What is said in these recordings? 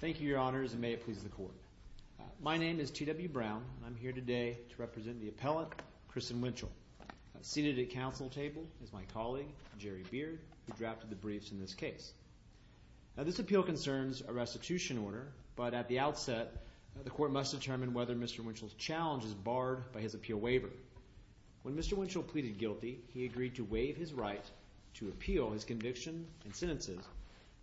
Thank you, your honors, and may it please the court. My name is T.W. Brown, and I'm here today to represent the appellate, Christian Winchel. Seated at council table is my colleague, Jerry Beard, who drafted the briefs in this case. This appeal concerns a restitution order, but at the outset, the court must determine whether Mr. Winchel's challenge is barred by his appeal waiver. When Mr. Winchel pleaded guilty, he agreed to waive his right to appeal his conviction and sentences,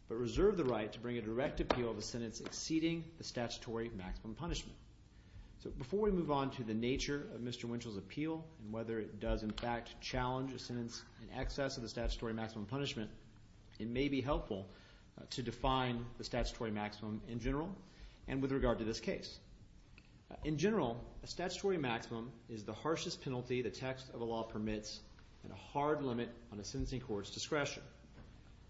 but reserved the right to bring a direct appeal of a sentence exceeding the statutory maximum punishment. Before we move on to the nature of Mr. Winchel's appeal and whether it does in fact challenge a sentence in excess of the statutory maximum punishment, it may be helpful to define the statutory maximum in general and with regard to this case. In general, a statutory maximum is the harshest penalty the text of a law permits and a hard limit on a sentencing court's discretion.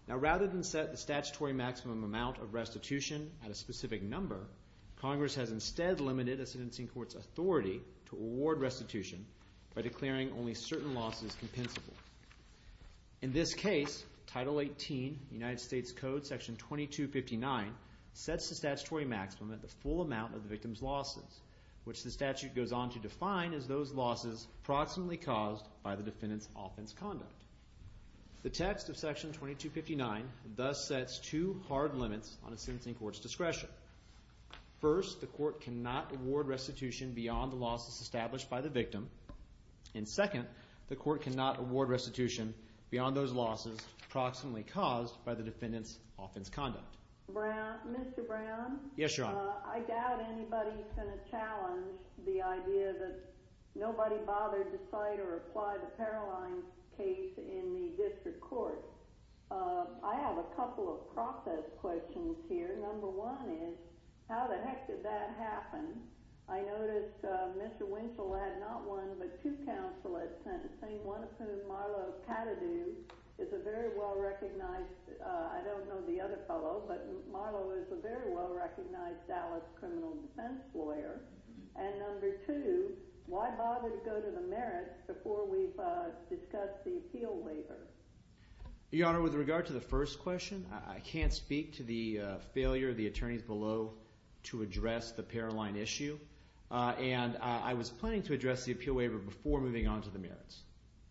Now, rather than set the statutory maximum amount of restitution at a specific number, Congress has instead limited a sentencing court's authority to award restitution by declaring only certain losses compensable. In this case, Title 18, United States Code, Section 2259, sets the statutory maximum at the full amount of the victim's losses, which the statute goes on to define as those losses approximately caused by the defendant's offense conduct. The text of Section 2259 thus sets two hard limits on a sentencing court's discretion. First, the court cannot award restitution beyond the losses established by the victim, and second, the court cannot award restitution beyond those losses approximately caused by the defendant's offense conduct. Mr. Brown? Yes, Your Honor. I doubt anybody is going to challenge the idea that nobody bothered to cite or apply the Paroline case in the district court. I have a couple of process questions here. Number one is, how the heck did that happen? I noticed Mr. Winchell had not one but two counsel at sentencing, one of whom, Marlo Katadu, is a very well-recognized— Dallas criminal defense lawyer. And number two, why bother to go to the merits before we've discussed the appeal waiver? Your Honor, with regard to the first question, I can't speak to the failure of the attorneys below to address the Paroline issue, and I was planning to address the appeal waiver before moving on to the merits.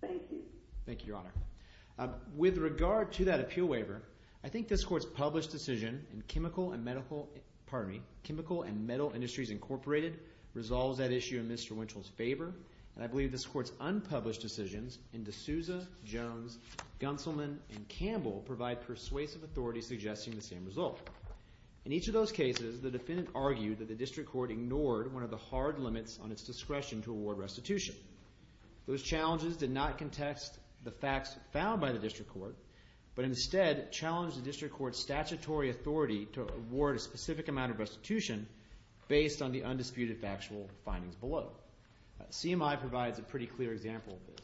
Thank you. Thank you, Your Honor. With regard to that appeal waiver, I think this Court's published decision in Chemical and Metal Industries Incorporated resolves that issue in Mr. Winchell's favor, and I believe this Court's unpublished decisions in D'Souza, Jones, Gunselman, and Campbell provide persuasive authority suggesting the same result. In each of those cases, the defendant argued that the district court ignored one of the hard limits on its discretion to award restitution. Those challenges did not contest the facts found by the district court, but instead challenged the district court's statutory authority to award a specific amount of restitution based on the undisputed factual findings below. CMI provides a pretty clear example of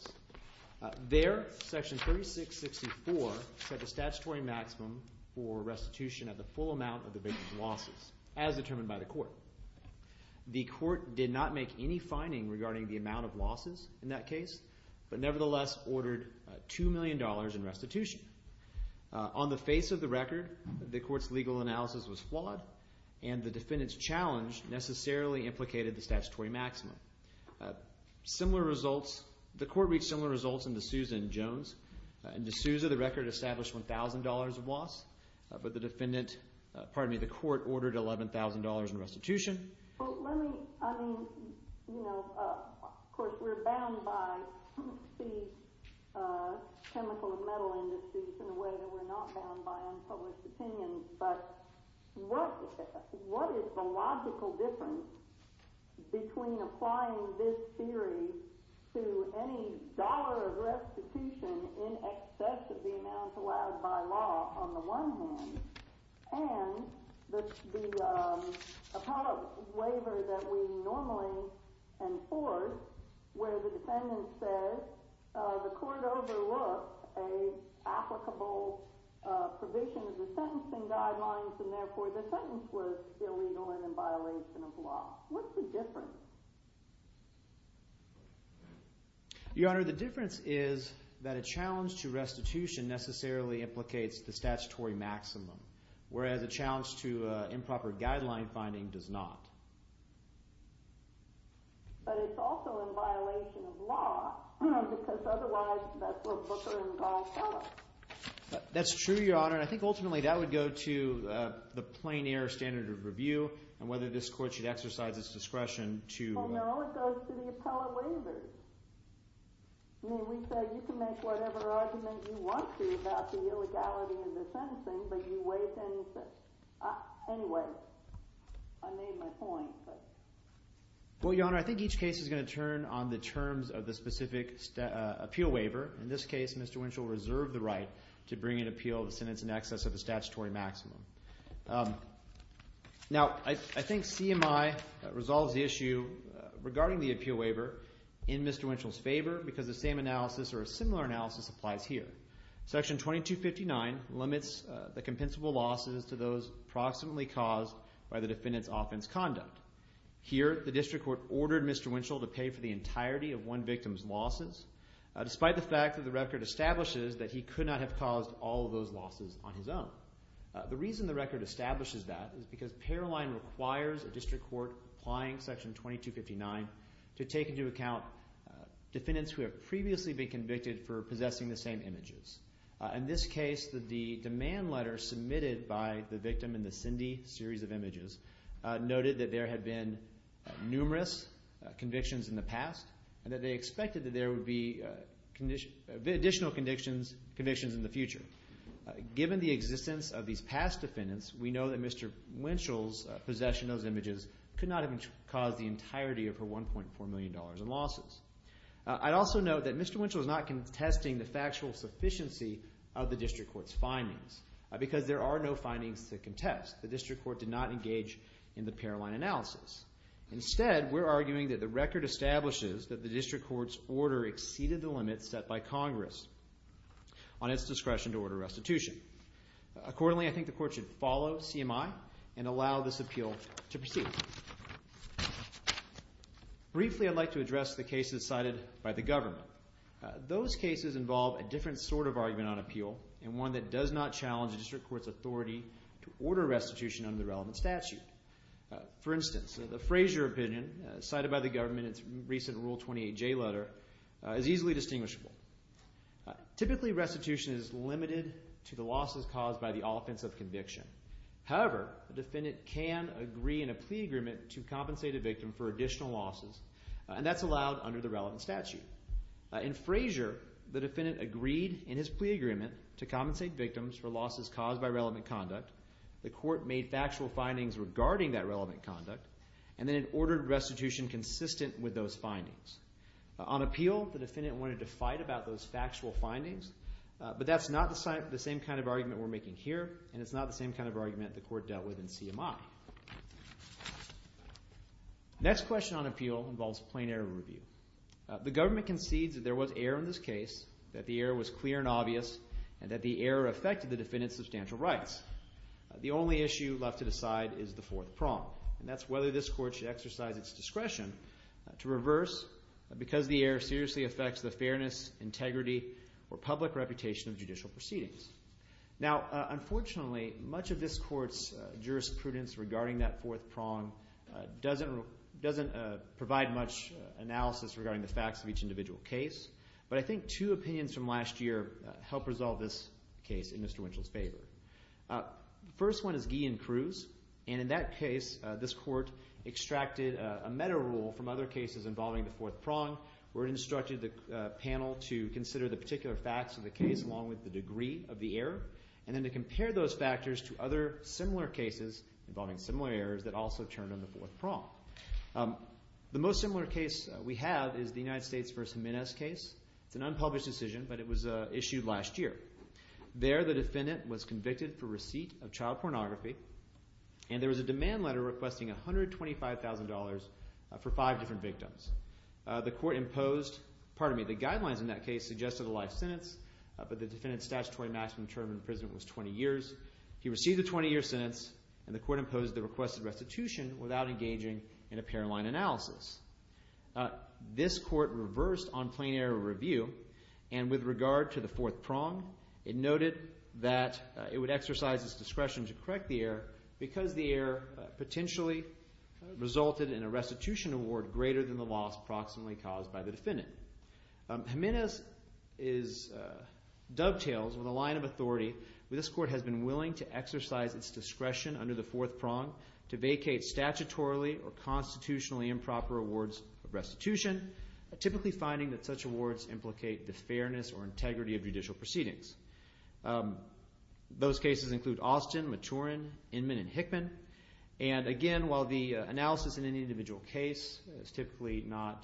this. There, Section 3664 set the statutory maximum for restitution at the full amount of the defendant's losses, as determined by the court. The court did not make any finding regarding the amount of losses in that case, but nevertheless ordered $2 million in restitution. On the face of the record, the court's legal analysis was flawed, and the defendant's challenge necessarily implicated the statutory maximum. Similar results, the court reached similar results in D'Souza and Jones. In D'Souza, the record established $1,000 of loss, but the defendant, pardon me, the court ordered $11,000 in restitution. Well, let me, I mean, you know, of course we're bound by the chemical and metal industries in a way that we're not bound by unpublished opinions, but what is the logical difference between applying this theory to any dollar of restitution in excess of the amount allowed by law on the one hand, and the appellate waiver that we normally enforce where the defendant says the court overlooked an applicable provision of the sentencing guidelines and therefore the sentence was illegal and in violation of law? What's the difference? Your Honor, the difference is that a challenge to restitution necessarily implicates the statutory maximum, whereas a challenge to improper guideline finding does not. But it's also in violation of law because otherwise that's what Booker and Gaul tell us. That's true, Your Honor, and I think ultimately that would go to the plain air standard of review and whether this court should exercise its discretion to— Well, no, it goes to the appellate waivers. I mean, we said you can make whatever argument you want to about the illegality of the sentencing, but you waive anything. Anyway, I made my point, but— Well, Your Honor, I think each case is going to turn on the terms of the specific appeal waiver. In this case, Mr. Winchell reserved the right to bring an appeal of the sentence in excess of the statutory maximum. Now, I think CMI resolves the issue regarding the appeal waiver in Mr. Winchell's favor because the same analysis or a similar analysis applies here. Section 2259 limits the compensable losses to those proximately caused by the defendant's offense conduct. Here, the district court ordered Mr. Winchell to pay for the entirety of one victim's losses despite the fact that the record establishes that he could not have caused all of those losses on his own. The reason the record establishes that is because Paroline requires a district court applying Section 2259 to take into account defendants who have previously been convicted for possessing the same images. In this case, the demand letter submitted by the victim in the Cindy series of images noted that there had been numerous convictions in the past and that they expected that there would be additional convictions in the future. Given the existence of these past defendants, we know that Mr. Winchell's possession of those images could not have caused the entirety of her $1.4 million in losses. I'd also note that Mr. Winchell is not contesting the factual sufficiency of the district court's findings because there are no findings to contest. The district court did not engage in the Paroline analysis. Instead, we're arguing that the record establishes that the district court's order exceeded the limits set by Congress on its discretion to order restitution. Accordingly, I think the court should follow CMI and allow this appeal to proceed. Briefly, I'd like to address the cases cited by the government. Those cases involve a different sort of argument on appeal and one that does not challenge the district court's authority to order restitution under the relevant statute. For instance, the Frazier opinion cited by the government in its recent Rule 28J letter is easily distinguishable. Typically, restitution is limited to the losses caused by the offense of conviction. However, the defendant can agree in a plea agreement to compensate a victim for additional losses, and that's allowed under the relevant statute. In Frazier, the defendant agreed in his plea agreement to compensate victims for losses caused by relevant conduct. The court made factual findings regarding that relevant conduct, and then it ordered restitution consistent with those findings. On appeal, the defendant wanted to fight about those factual findings, but that's not the same kind of argument we're making here, and it's not the same kind of argument the court dealt with in CMI. The next question on appeal involves plain error review. The government concedes that there was error in this case, that the error was clear and obvious, and that the error affected the defendant's substantial rights. The only issue left to decide is the fourth prong, and that's whether this court should exercise its discretion to reverse because the error seriously affects the fairness, integrity, or public reputation of judicial proceedings. Now, unfortunately, much of this court's jurisprudence regarding that fourth prong doesn't provide much analysis regarding the facts of each individual case, but I think two opinions from last year help resolve this case in Mr. Winchell's favor. The first one is Guy and Cruz, and in that case, this court extracted a meta-rule from other cases involving the fourth prong where it instructed the panel to consider the particular facts of the case along with the degree of the error and then to compare those factors to other similar cases involving similar errors that also turned on the fourth prong. The most similar case we have is the United States v. Jimenez case. It's an unpublished decision, but it was issued last year. There, the defendant was convicted for receipt of child pornography, and there was a demand letter requesting $125,000 for five different victims. The court imposed—pardon me, the guidelines in that case suggested a life sentence, but the defendant's statutory maximum term in prison was 20 years. He received a 20-year sentence, and the court imposed the requested restitution without engaging in a parent line analysis. This court reversed on plain error review, and with regard to the fourth prong, it noted that it would exercise its discretion to correct the error because the error potentially resulted in a restitution award greater than the loss approximately caused by the defendant. Jimenez dovetails with a line of authority where this court has been willing to exercise its discretion under the fourth prong to vacate statutorily or constitutionally improper awards of restitution, typically finding that such awards implicate the fairness or integrity of judicial proceedings. Those cases include Austin, Maturin, Inman, and Hickman. And again, while the analysis in any individual case is typically not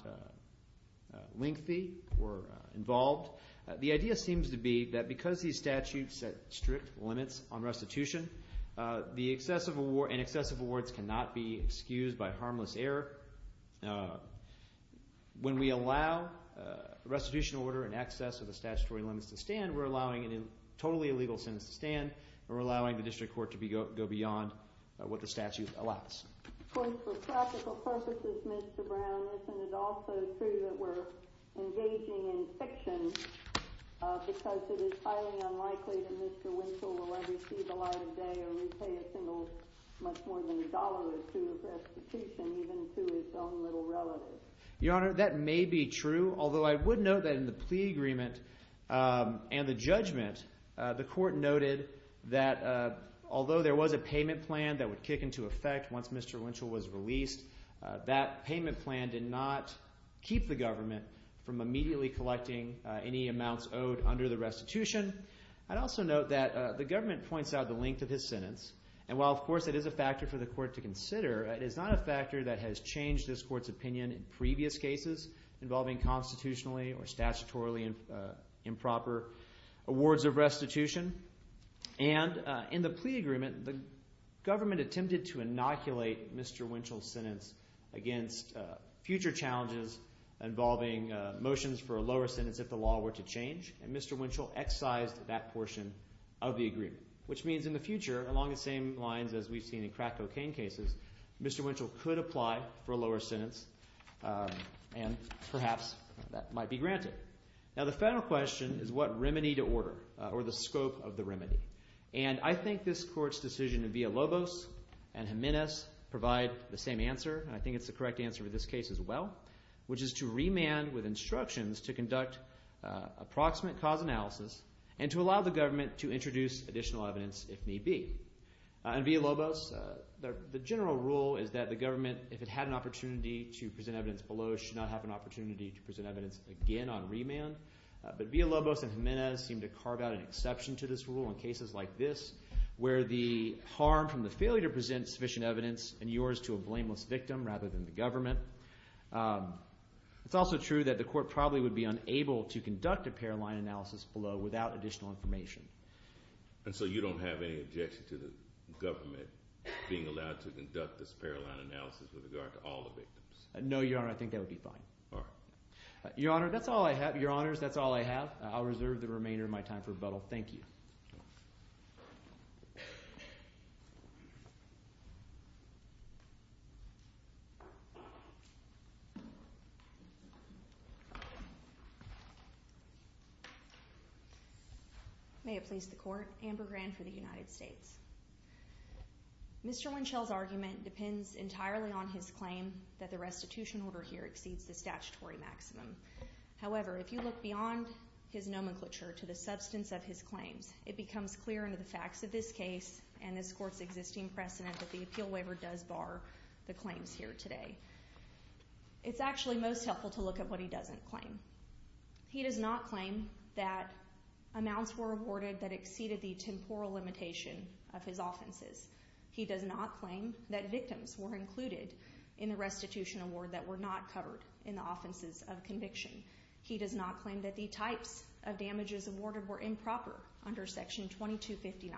lengthy or involved, the idea seems to be that because these statutes set strict limits on restitution, the excessive award—and excessive awards cannot be excused by harmless error. When we allow restitution order in excess of the statutory limits to stand, we're allowing it in totally illegal sense to stand, and we're allowing the district court to go beyond what the statute allows. For practical purposes, Mr. Brown, isn't it also true that we're engaging in fiction because it is highly unlikely that Mr. Winchell will ever see the light of day or repay a single much more than a dollar or two of restitution even to his own little relative? Your Honor, that may be true, although I would note that in the plea agreement and the judgment, the court noted that although there was a payment plan that would kick into effect once Mr. Winchell was released, that payment plan did not keep the government from immediately collecting any amounts owed under the restitution. I'd also note that the government points out the length of his sentence, and while, of course, it is a factor for the court to consider, it is not a factor that has changed this court's opinion in previous cases involving constitutionally or statutorily improper awards of restitution. And in the plea agreement, the government attempted to inoculate Mr. Winchell's sentence against future challenges involving motions for a lower sentence if the law were to change, and Mr. Winchell excised that portion of the agreement, which means in the future, along the same lines as we've seen in crack cocaine cases, Mr. Winchell could apply for a lower sentence, and perhaps that might be granted. Now the final question is what remedy to order or the scope of the remedy, and I think this court's decision in Villalobos and Jimenez provide the same answer, and I think it's the correct answer for this case as well, which is to remand with instructions to conduct approximate cause analysis and to allow the government to introduce additional evidence if need be. In Villalobos, the general rule is that the government, if it had an opportunity to present evidence below, should not have an opportunity to present evidence again on remand, but Villalobos and Jimenez seem to carve out an exception to this rule in cases like this where the harm from the failure to present sufficient evidence in yours to a blameless victim rather than the government. It's also true that the court probably would be unable to conduct a paroline analysis below without additional information. And so you don't have any objection to the government being allowed to conduct this paroline analysis with regard to all the victims? No, Your Honor. I think that would be fine. All right. Your Honor, that's all I have. Your Honors, that's all I have. I'll reserve the remainder of my time for rebuttal. Thank you. Thank you. May it please the Court. Amber Grand for the United States. Mr. Winchell's argument depends entirely on his claim that the restitution order here exceeds the statutory maximum. However, if you look beyond his nomenclature to the substance of his claims, it becomes clear under the facts of this case and this Court's existing precedent that the appeal waiver does bar the claims here today. It's actually most helpful to look at what he doesn't claim. He does not claim that amounts were awarded that exceeded the temporal limitation of his offenses. He does not claim that victims were included in the restitution award that were not covered in the offenses of conviction. He does not claim that the types of damages awarded were improper under Section 2259.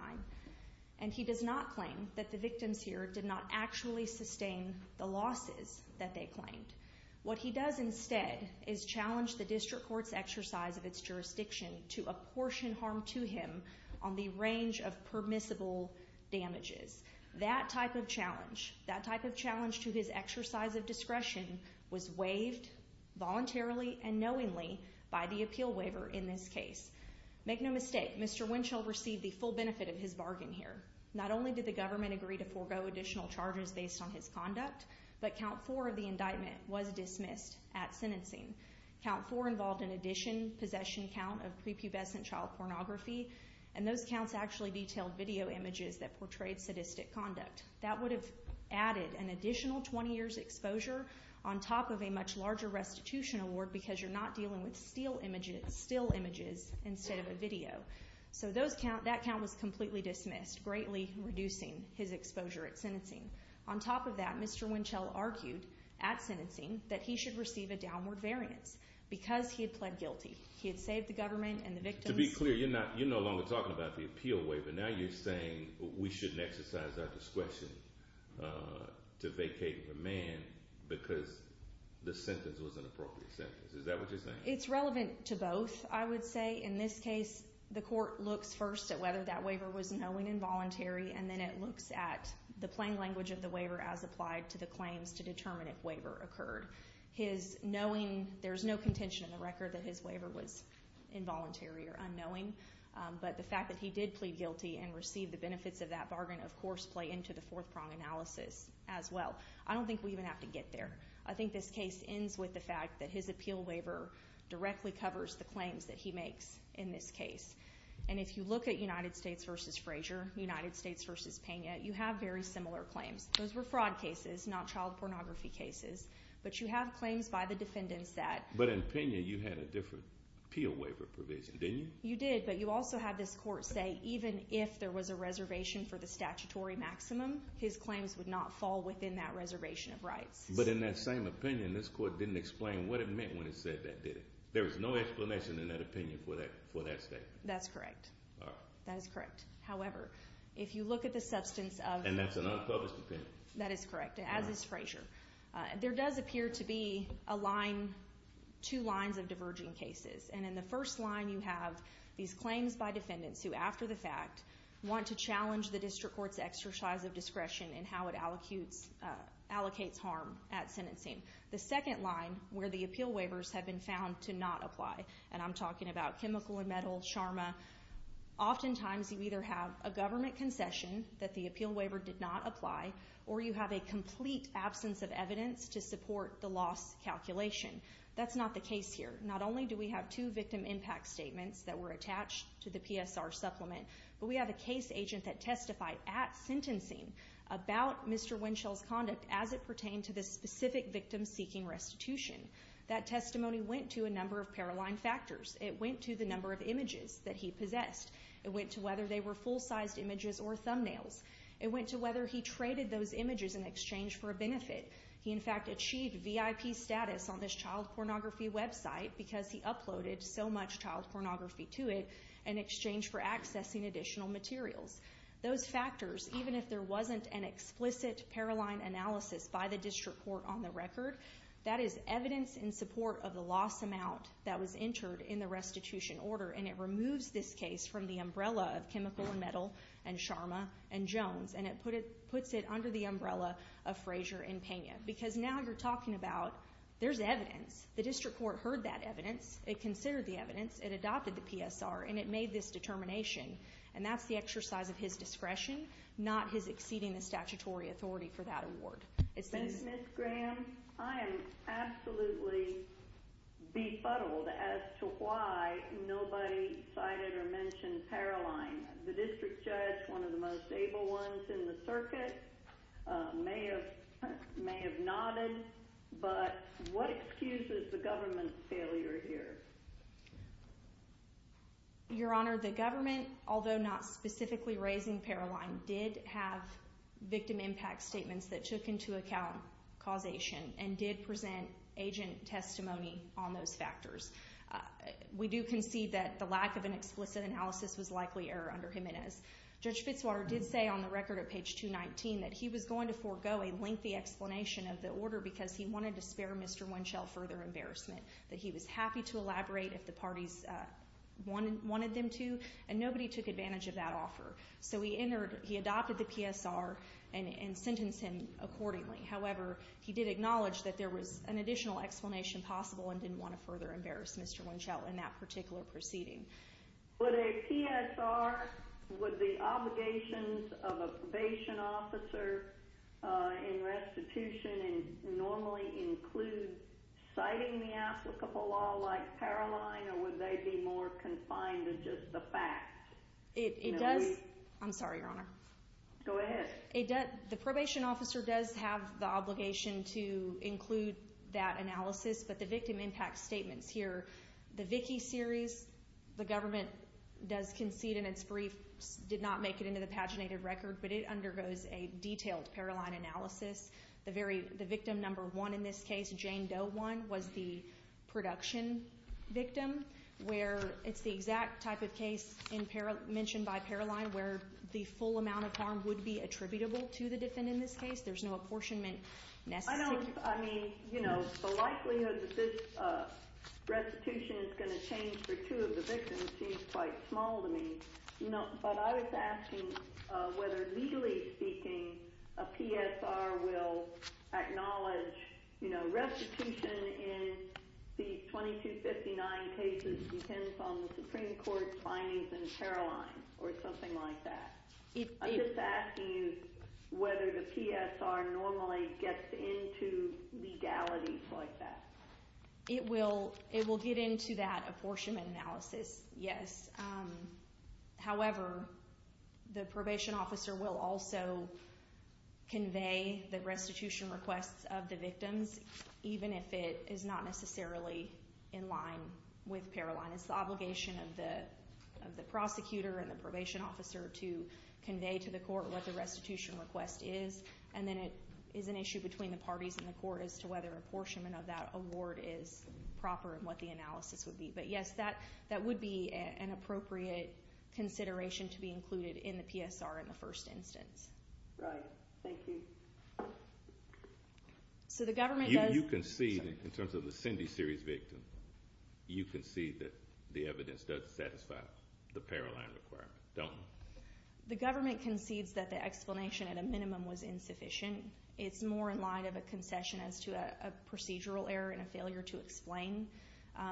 And he does not claim that the victims here did not actually sustain the losses that they claimed. What he does instead is challenge the district court's exercise of its jurisdiction to apportion harm to him on the range of permissible damages. That type of challenge, that type of challenge to his exercise of discretion, was waived voluntarily and knowingly by the appeal waiver in this case. Make no mistake, Mr. Winchell received the full benefit of his bargain here. Not only did the government agree to forego additional charges based on his conduct, but count four of the indictment was dismissed at sentencing. Count four involved an addition possession count of prepubescent child pornography, and those counts actually detailed video images that portrayed sadistic conduct. That would have added an additional 20 years' exposure on top of a much larger restitution award because you're not dealing with still images instead of a video. So that count was completely dismissed, greatly reducing his exposure at sentencing. On top of that, Mr. Winchell argued at sentencing that he should receive a downward variance because he had pled guilty. He had saved the government and the victims. To be clear, you're no longer talking about the appeal waiver. Now you're saying we shouldn't exercise our discretion to vacate a man because the sentence was an appropriate sentence. Is that what you're saying? It's relevant to both, I would say. In this case, the court looks first at whether that waiver was knowingly involuntary, and then it looks at the plain language of the waiver as applied to the claims to determine if waiver occurred. There's no contention in the record that his waiver was involuntary or unknowing, but the fact that he did plead guilty and receive the benefits of that bargain, of course, play into the fourth-prong analysis as well. I don't think we even have to get there. I think this case ends with the fact that his appeal waiver directly covers the claims that he makes in this case. And if you look at United States v. Frazier, United States v. Pena, you have very similar claims. Those were fraud cases, not child pornography cases. But you have claims by the defendants that— But in Pena, you had a different appeal waiver provision, didn't you? You did, but you also have this court say even if there was a reservation for the statutory maximum, his claims would not fall within that reservation of rights. But in that same opinion, this court didn't explain what it meant when it said that, did it? There was no explanation in that opinion for that statement. That's correct. All right. That is correct. However, if you look at the substance of— And that's an unpublished opinion. That is correct, as is Frazier. There does appear to be a line—two lines of diverging cases. And in the first line, you have these claims by defendants who, after the fact, want to challenge the district court's exercise of discretion in how it allocates harm at sentencing. The second line, where the appeal waivers have been found to not apply— and I'm talking about chemical and metal, Sharma— or you have a complete absence of evidence to support the loss calculation. That's not the case here. Not only do we have two victim impact statements that were attached to the PSR supplement, but we have a case agent that testified at sentencing about Mr. Winchell's conduct as it pertained to the specific victim seeking restitution. That testimony went to a number of parallel factors. It went to the number of images that he possessed. It went to whether they were full-sized images or thumbnails. It went to whether he traded those images in exchange for a benefit. He, in fact, achieved VIP status on this child pornography website because he uploaded so much child pornography to it in exchange for accessing additional materials. Those factors, even if there wasn't an explicit Paroline analysis by the district court on the record, that is evidence in support of the loss amount that was entered in the restitution order, and it removes this case from the umbrella of chemical and metal and Sharma and Jones, and it puts it under the umbrella of Frazier and Pena because now you're talking about there's evidence. The district court heard that evidence. It considered the evidence. It adopted the PSR, and it made this determination. And that's the exercise of his discretion, not his exceeding the statutory authority for that award. Ms. Graham, I am absolutely befuddled as to why nobody cited or mentioned Paroline. The district judge, one of the most able ones in the circuit, may have nodded, but what excuses the government's failure here? Your Honor, the government, although not specifically raising Paroline, did have victim impact statements that took into account causation and did present agent testimony on those factors. We do concede that the lack of an explicit analysis was likely error under Jimenez. Judge Fitzwater did say on the record at page 219 that he was going to forego a lengthy explanation of the order because he wanted to spare Mr. Winchell further embarrassment, that he was happy to elaborate if the parties wanted them to, and nobody took advantage of that offer. So he adopted the PSR and sentenced him accordingly. However, he did acknowledge that there was an additional explanation possible and didn't want to further embarrass Mr. Winchell in that particular proceeding. Would a PSR, would the obligations of a probation officer in restitution normally include citing the applicable law like Paroline, or would they be more confined to just the facts? It does. I'm sorry, Your Honor. Go ahead. The probation officer does have the obligation to include that analysis, but the victim impact statements here, the Vickie series, the government does concede in its brief, did not make it into the paginated record, but it undergoes a detailed Paroline analysis. The victim number one in this case, Jane Doe one, was the production victim, where it's the exact type of case mentioned by Paroline where the full amount of harm would be attributable to the defendant in this case. There's no apportionment necessary. I don't, I mean, you know, the likelihood that this restitution is going to change for two of the victims seems quite small to me. No, but I was asking whether, legally speaking, a PSR will acknowledge, you know, restitution in the 2259 cases depends on the Supreme Court's findings in Paroline or something like that. I'm just asking you whether the PSR normally gets into legalities like that. It will get into that apportionment analysis, yes. However, the probation officer will also convey the restitution requests of the victims, even if it is not necessarily in line with Paroline. It's the obligation of the prosecutor and the probation officer to convey to the court what the restitution request is, and then it is an issue between the parties in the court as to whether apportionment of that award is proper and what the analysis would be. But, yes, that would be an appropriate consideration to be included in the PSR in the first instance. Right. Thank you. So the government does... You concede, in terms of the Cindy series victim, you concede that the evidence does satisfy the Paroline requirement, don't you? The government concedes that the explanation, at a minimum, was insufficient. It's more in line of a concession as to a procedural error and a failure to explain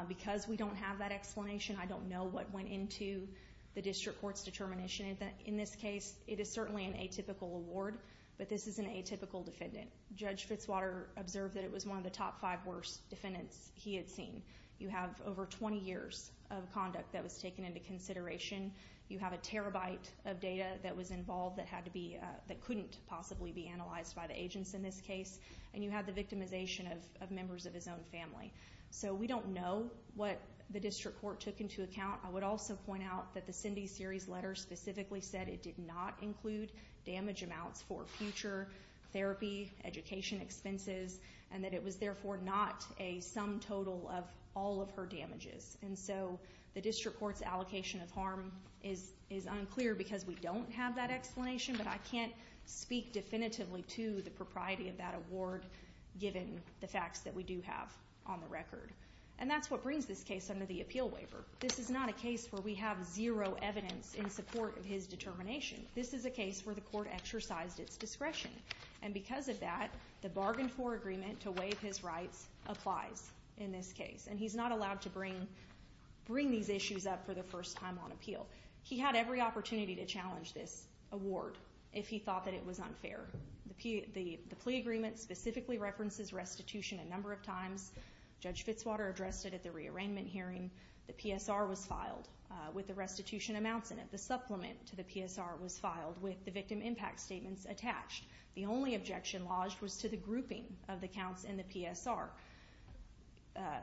because we don't have that explanation. I don't know what went into the district court's determination. In this case, it is certainly an atypical award, but this is an atypical defendant. Judge Fitzwater observed that it was one of the top five worst defendants he had seen. You have over 20 years of conduct that was taken into consideration. You have a terabyte of data that was involved that couldn't possibly be analyzed by the agents in this case, and you have the victimization of members of his own family. So we don't know what the district court took into account. I would also point out that the Cindy series letter specifically said it did not include damage amounts for future therapy, education expenses, and that it was, therefore, not a sum total of all of her damages. And so the district court's allocation of harm is unclear because we don't have that explanation, but I can't speak definitively to the propriety of that award given the facts that we do have on the record. And that's what brings this case under the appeal waiver. This is not a case where we have zero evidence in support of his determination. This is a case where the court exercised its discretion, and because of that, the bargain for agreement to waive his rights applies in this case, and he's not allowed to bring these issues up for the first time on appeal. He had every opportunity to challenge this award if he thought that it was unfair. The plea agreement specifically references restitution a number of times. Judge Fitzwater addressed it at the rearrangement hearing. The PSR was filed with the restitution amounts in it. The supplement to the PSR was filed with the victim impact statements attached. The only objection lodged was to the grouping of the counts in the PSR.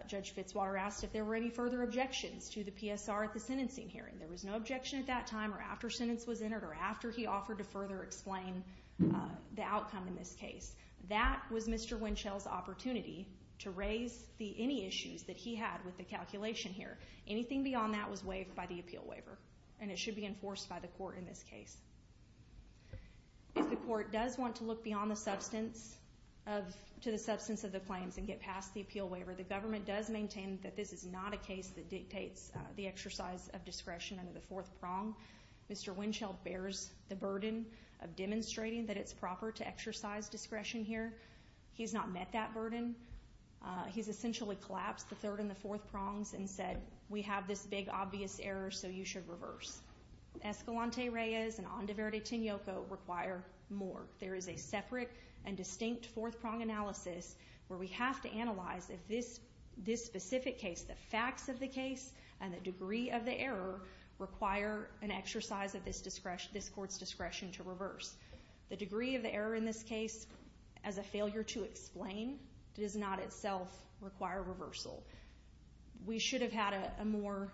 Judge Fitzwater asked if there were any further objections to the PSR at the sentencing hearing. There was no objection at that time or after sentence was entered or after he offered to further explain the outcome in this case. That was Mr. Winchell's opportunity to raise any issues that he had with the calculation here. Anything beyond that was waived by the appeal waiver, and it should be enforced by the court in this case. If the court does want to look beyond the substance of the claims and get past the appeal waiver, the government does maintain that this is not a case that dictates the exercise of discretion under the fourth prong. Mr. Winchell bears the burden of demonstrating that it's proper to exercise discretion here. He's not met that burden. He's essentially collapsed the third and the fourth prongs and said, we have this big obvious error, so you should reverse. Escalante Reyes and Onda Verde Tinoco require more. There is a separate and distinct fourth prong analysis where we have to analyze if this specific case, the facts of the case and the degree of the error require an exercise of this court's discretion to reverse. The degree of the error in this case, as a failure to explain, does not itself require reversal. We should have had a more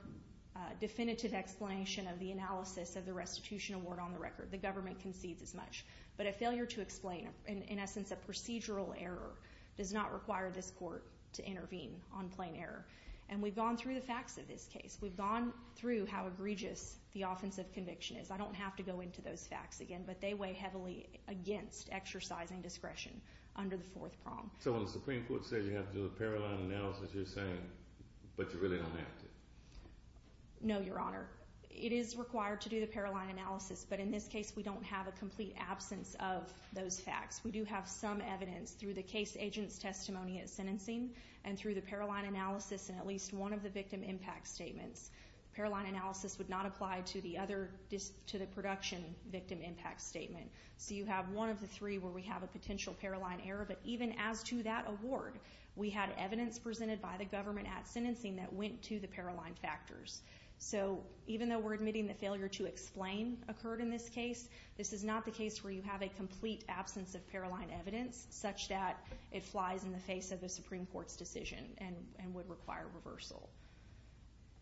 definitive explanation of the analysis of the restitution award on the record. The government concedes as much. But a failure to explain, in essence a procedural error, does not require this court to intervene on plain error. And we've gone through the facts of this case. We've gone through how egregious the offensive conviction is. I don't have to go into those facts again, but they weigh heavily against exercising discretion under the fourth prong. So when the Supreme Court says you have to do a parallel analysis, you're saying, but you really don't have to? No, Your Honor. It is required to do the parallel analysis, but in this case we don't have a complete absence of those facts. We do have some evidence through the case agent's testimony at sentencing and through the parallel analysis in at least one of the victim impact statements. Parallel analysis would not apply to the production victim impact statement. So you have one of the three where we have a potential parallel error. But even as to that award, we had evidence presented by the government at sentencing that went to the parallel factors. So even though we're admitting the failure to explain occurred in this case, this is not the case where you have a complete absence of parallel evidence such that it flies in the face of the Supreme Court's decision and would require reversal.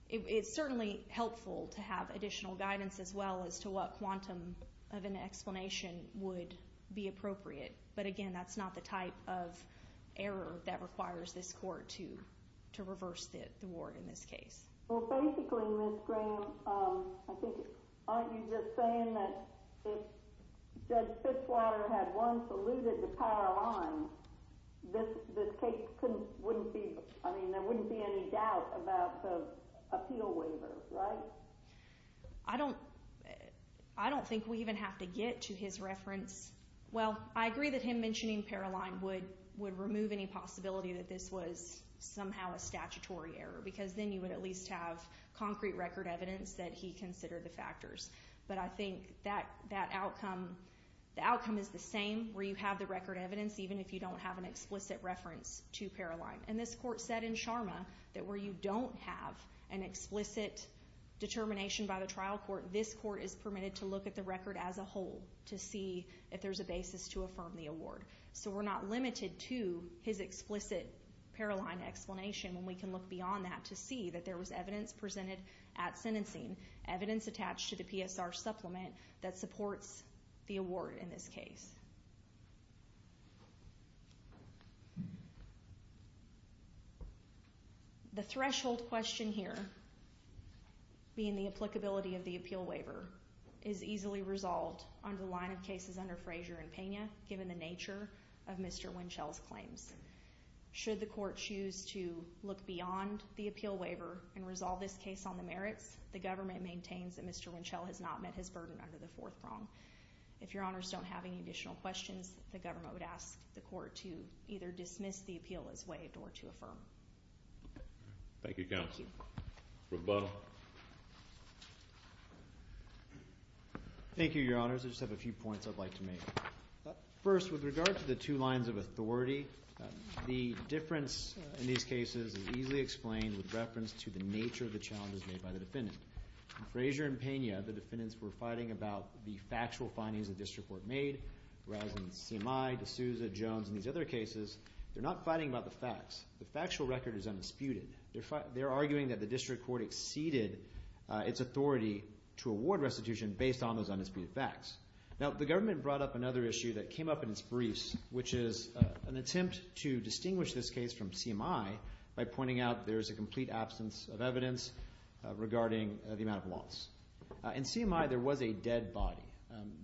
It's certainly helpful to have additional guidance as well as to what quantum of an explanation would be appropriate. But again, that's not the type of error that requires this court to reverse the award in this case. Well, basically, Ms. Graham, aren't you just saying that if Judge Fitzwater had once alluded to Paroline, there wouldn't be any doubt about the appeal waiver, right? I don't think we even have to get to his reference. Well, I agree that him mentioning Paroline would remove any possibility that this was somehow a statutory error because then you would at least have concrete record evidence that he considered the factors. But I think the outcome is the same where you have the record evidence, even if you don't have an explicit reference to Paroline. And this court said in Sharma that where you don't have an explicit determination by the trial court, this court is permitted to look at the record as a whole to see if there's a basis to affirm the award. So we're not limited to his explicit Paroline explanation when we can look beyond that to see that there was evidence presented at sentencing, evidence attached to the PSR supplement that supports the award in this case. The threshold question here, being the applicability of the appeal waiver, is easily resolved under the line of cases under Frazier and Pena, given the nature of Mr. Winchell's claims. Should the court choose to look beyond the appeal waiver and resolve this case on the merits, the government maintains that Mr. Winchell has not met his burden under the fourth prong. If your honors don't have any additional questions, the government would ask the court to either dismiss the appeal as waived or to affirm. Thank you, Counselor. Roboto. Thank you, Your Honors. I just have a few points I'd like to make. First, with regard to the two lines of authority, the difference in these cases is easily explained with reference to the nature of the challenges made by the defendant. In Frazier and Pena, the defendants were fighting about the factual findings the district court made, whereas in CMI, D'Souza, Jones, and these other cases, they're not fighting about the facts. The factual record is undisputed. They're arguing that the district court exceeded its authority to award restitution based on those undisputed facts. Now, the government brought up another issue that came up in its briefs, which is an attempt to distinguish this case from CMI by pointing out there is a complete absence of evidence regarding the amount of loss. In CMI, there was a dead body.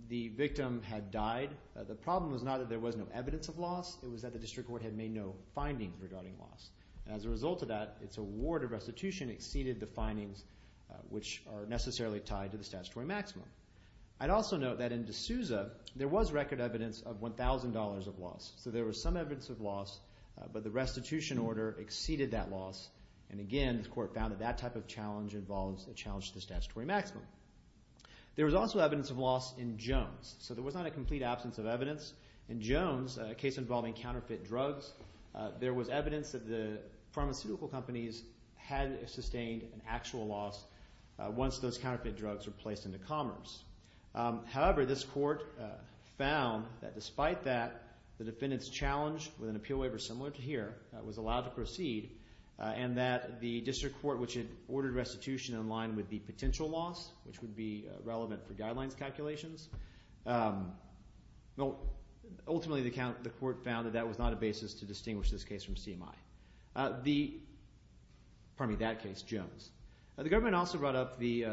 The victim had died. The problem was not that there was no evidence of loss. It was that the district court had made no findings regarding loss. As a result of that, its award of restitution exceeded the findings which are necessarily tied to the statutory maximum. I'd also note that in D'Souza, there was record evidence of $1,000 of loss. So there was some evidence of loss, but the restitution order exceeded that loss. And again, the court found that that type of challenge involves a challenge to the statutory maximum. There was also evidence of loss in Jones. So there was not a complete absence of evidence. In Jones, a case involving counterfeit drugs, there was evidence that the pharmaceutical companies had sustained an actual loss once those counterfeit drugs were placed into commerce. However, this court found that despite that, the defendant's challenge with an appeal waiver similar to here was allowed to proceed and that the district court which had ordered restitution in line with the potential loss, which would be relevant for guidelines calculations, ultimately the court found that that was not a basis to distinguish this case from CMI. Pardon me, that case, Jones. The government also brought up the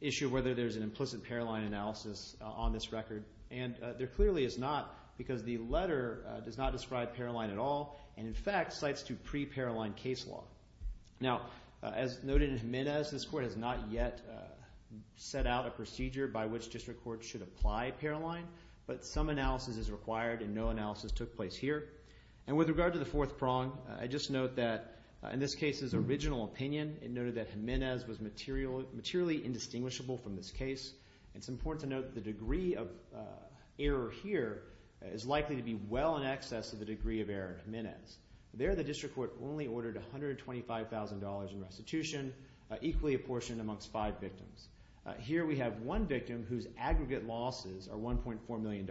issue of whether there's an implicit Paroline analysis on this record, and there clearly is not because the letter does not describe Paroline at all and, in fact, cites two pre-Paroline case law. Now, as noted in Jimenez, this court has not yet set out a procedure by which district courts should apply Paroline, but some analysis is required and no analysis took place here. And with regard to the fourth prong, I'd just note that in this case's original opinion, it noted that Jimenez was materially indistinguishable from this case. It's important to note the degree of error here is likely to be well in excess of the degree of error in Jimenez. There, the district court only ordered $125,000 in restitution, equally apportioned amongst five victims. Here we have one victim whose aggregate losses are $1.4 million.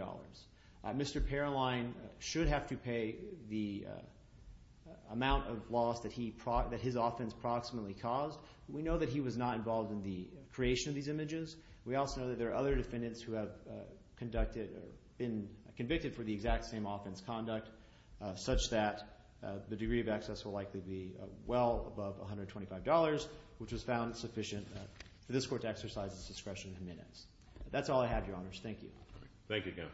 Mr. Paroline should have to pay the amount of loss that his offense proximately caused. We know that he was not involved in the creation of these images. We also know that there are other defendants who have conducted or been convicted for the exact same offense conduct, such that the degree of excess will likely be well above $125, which was found sufficient for this court to exercise its discretion in Jimenez. That's all I have, Your Honors. Thank you, counsel.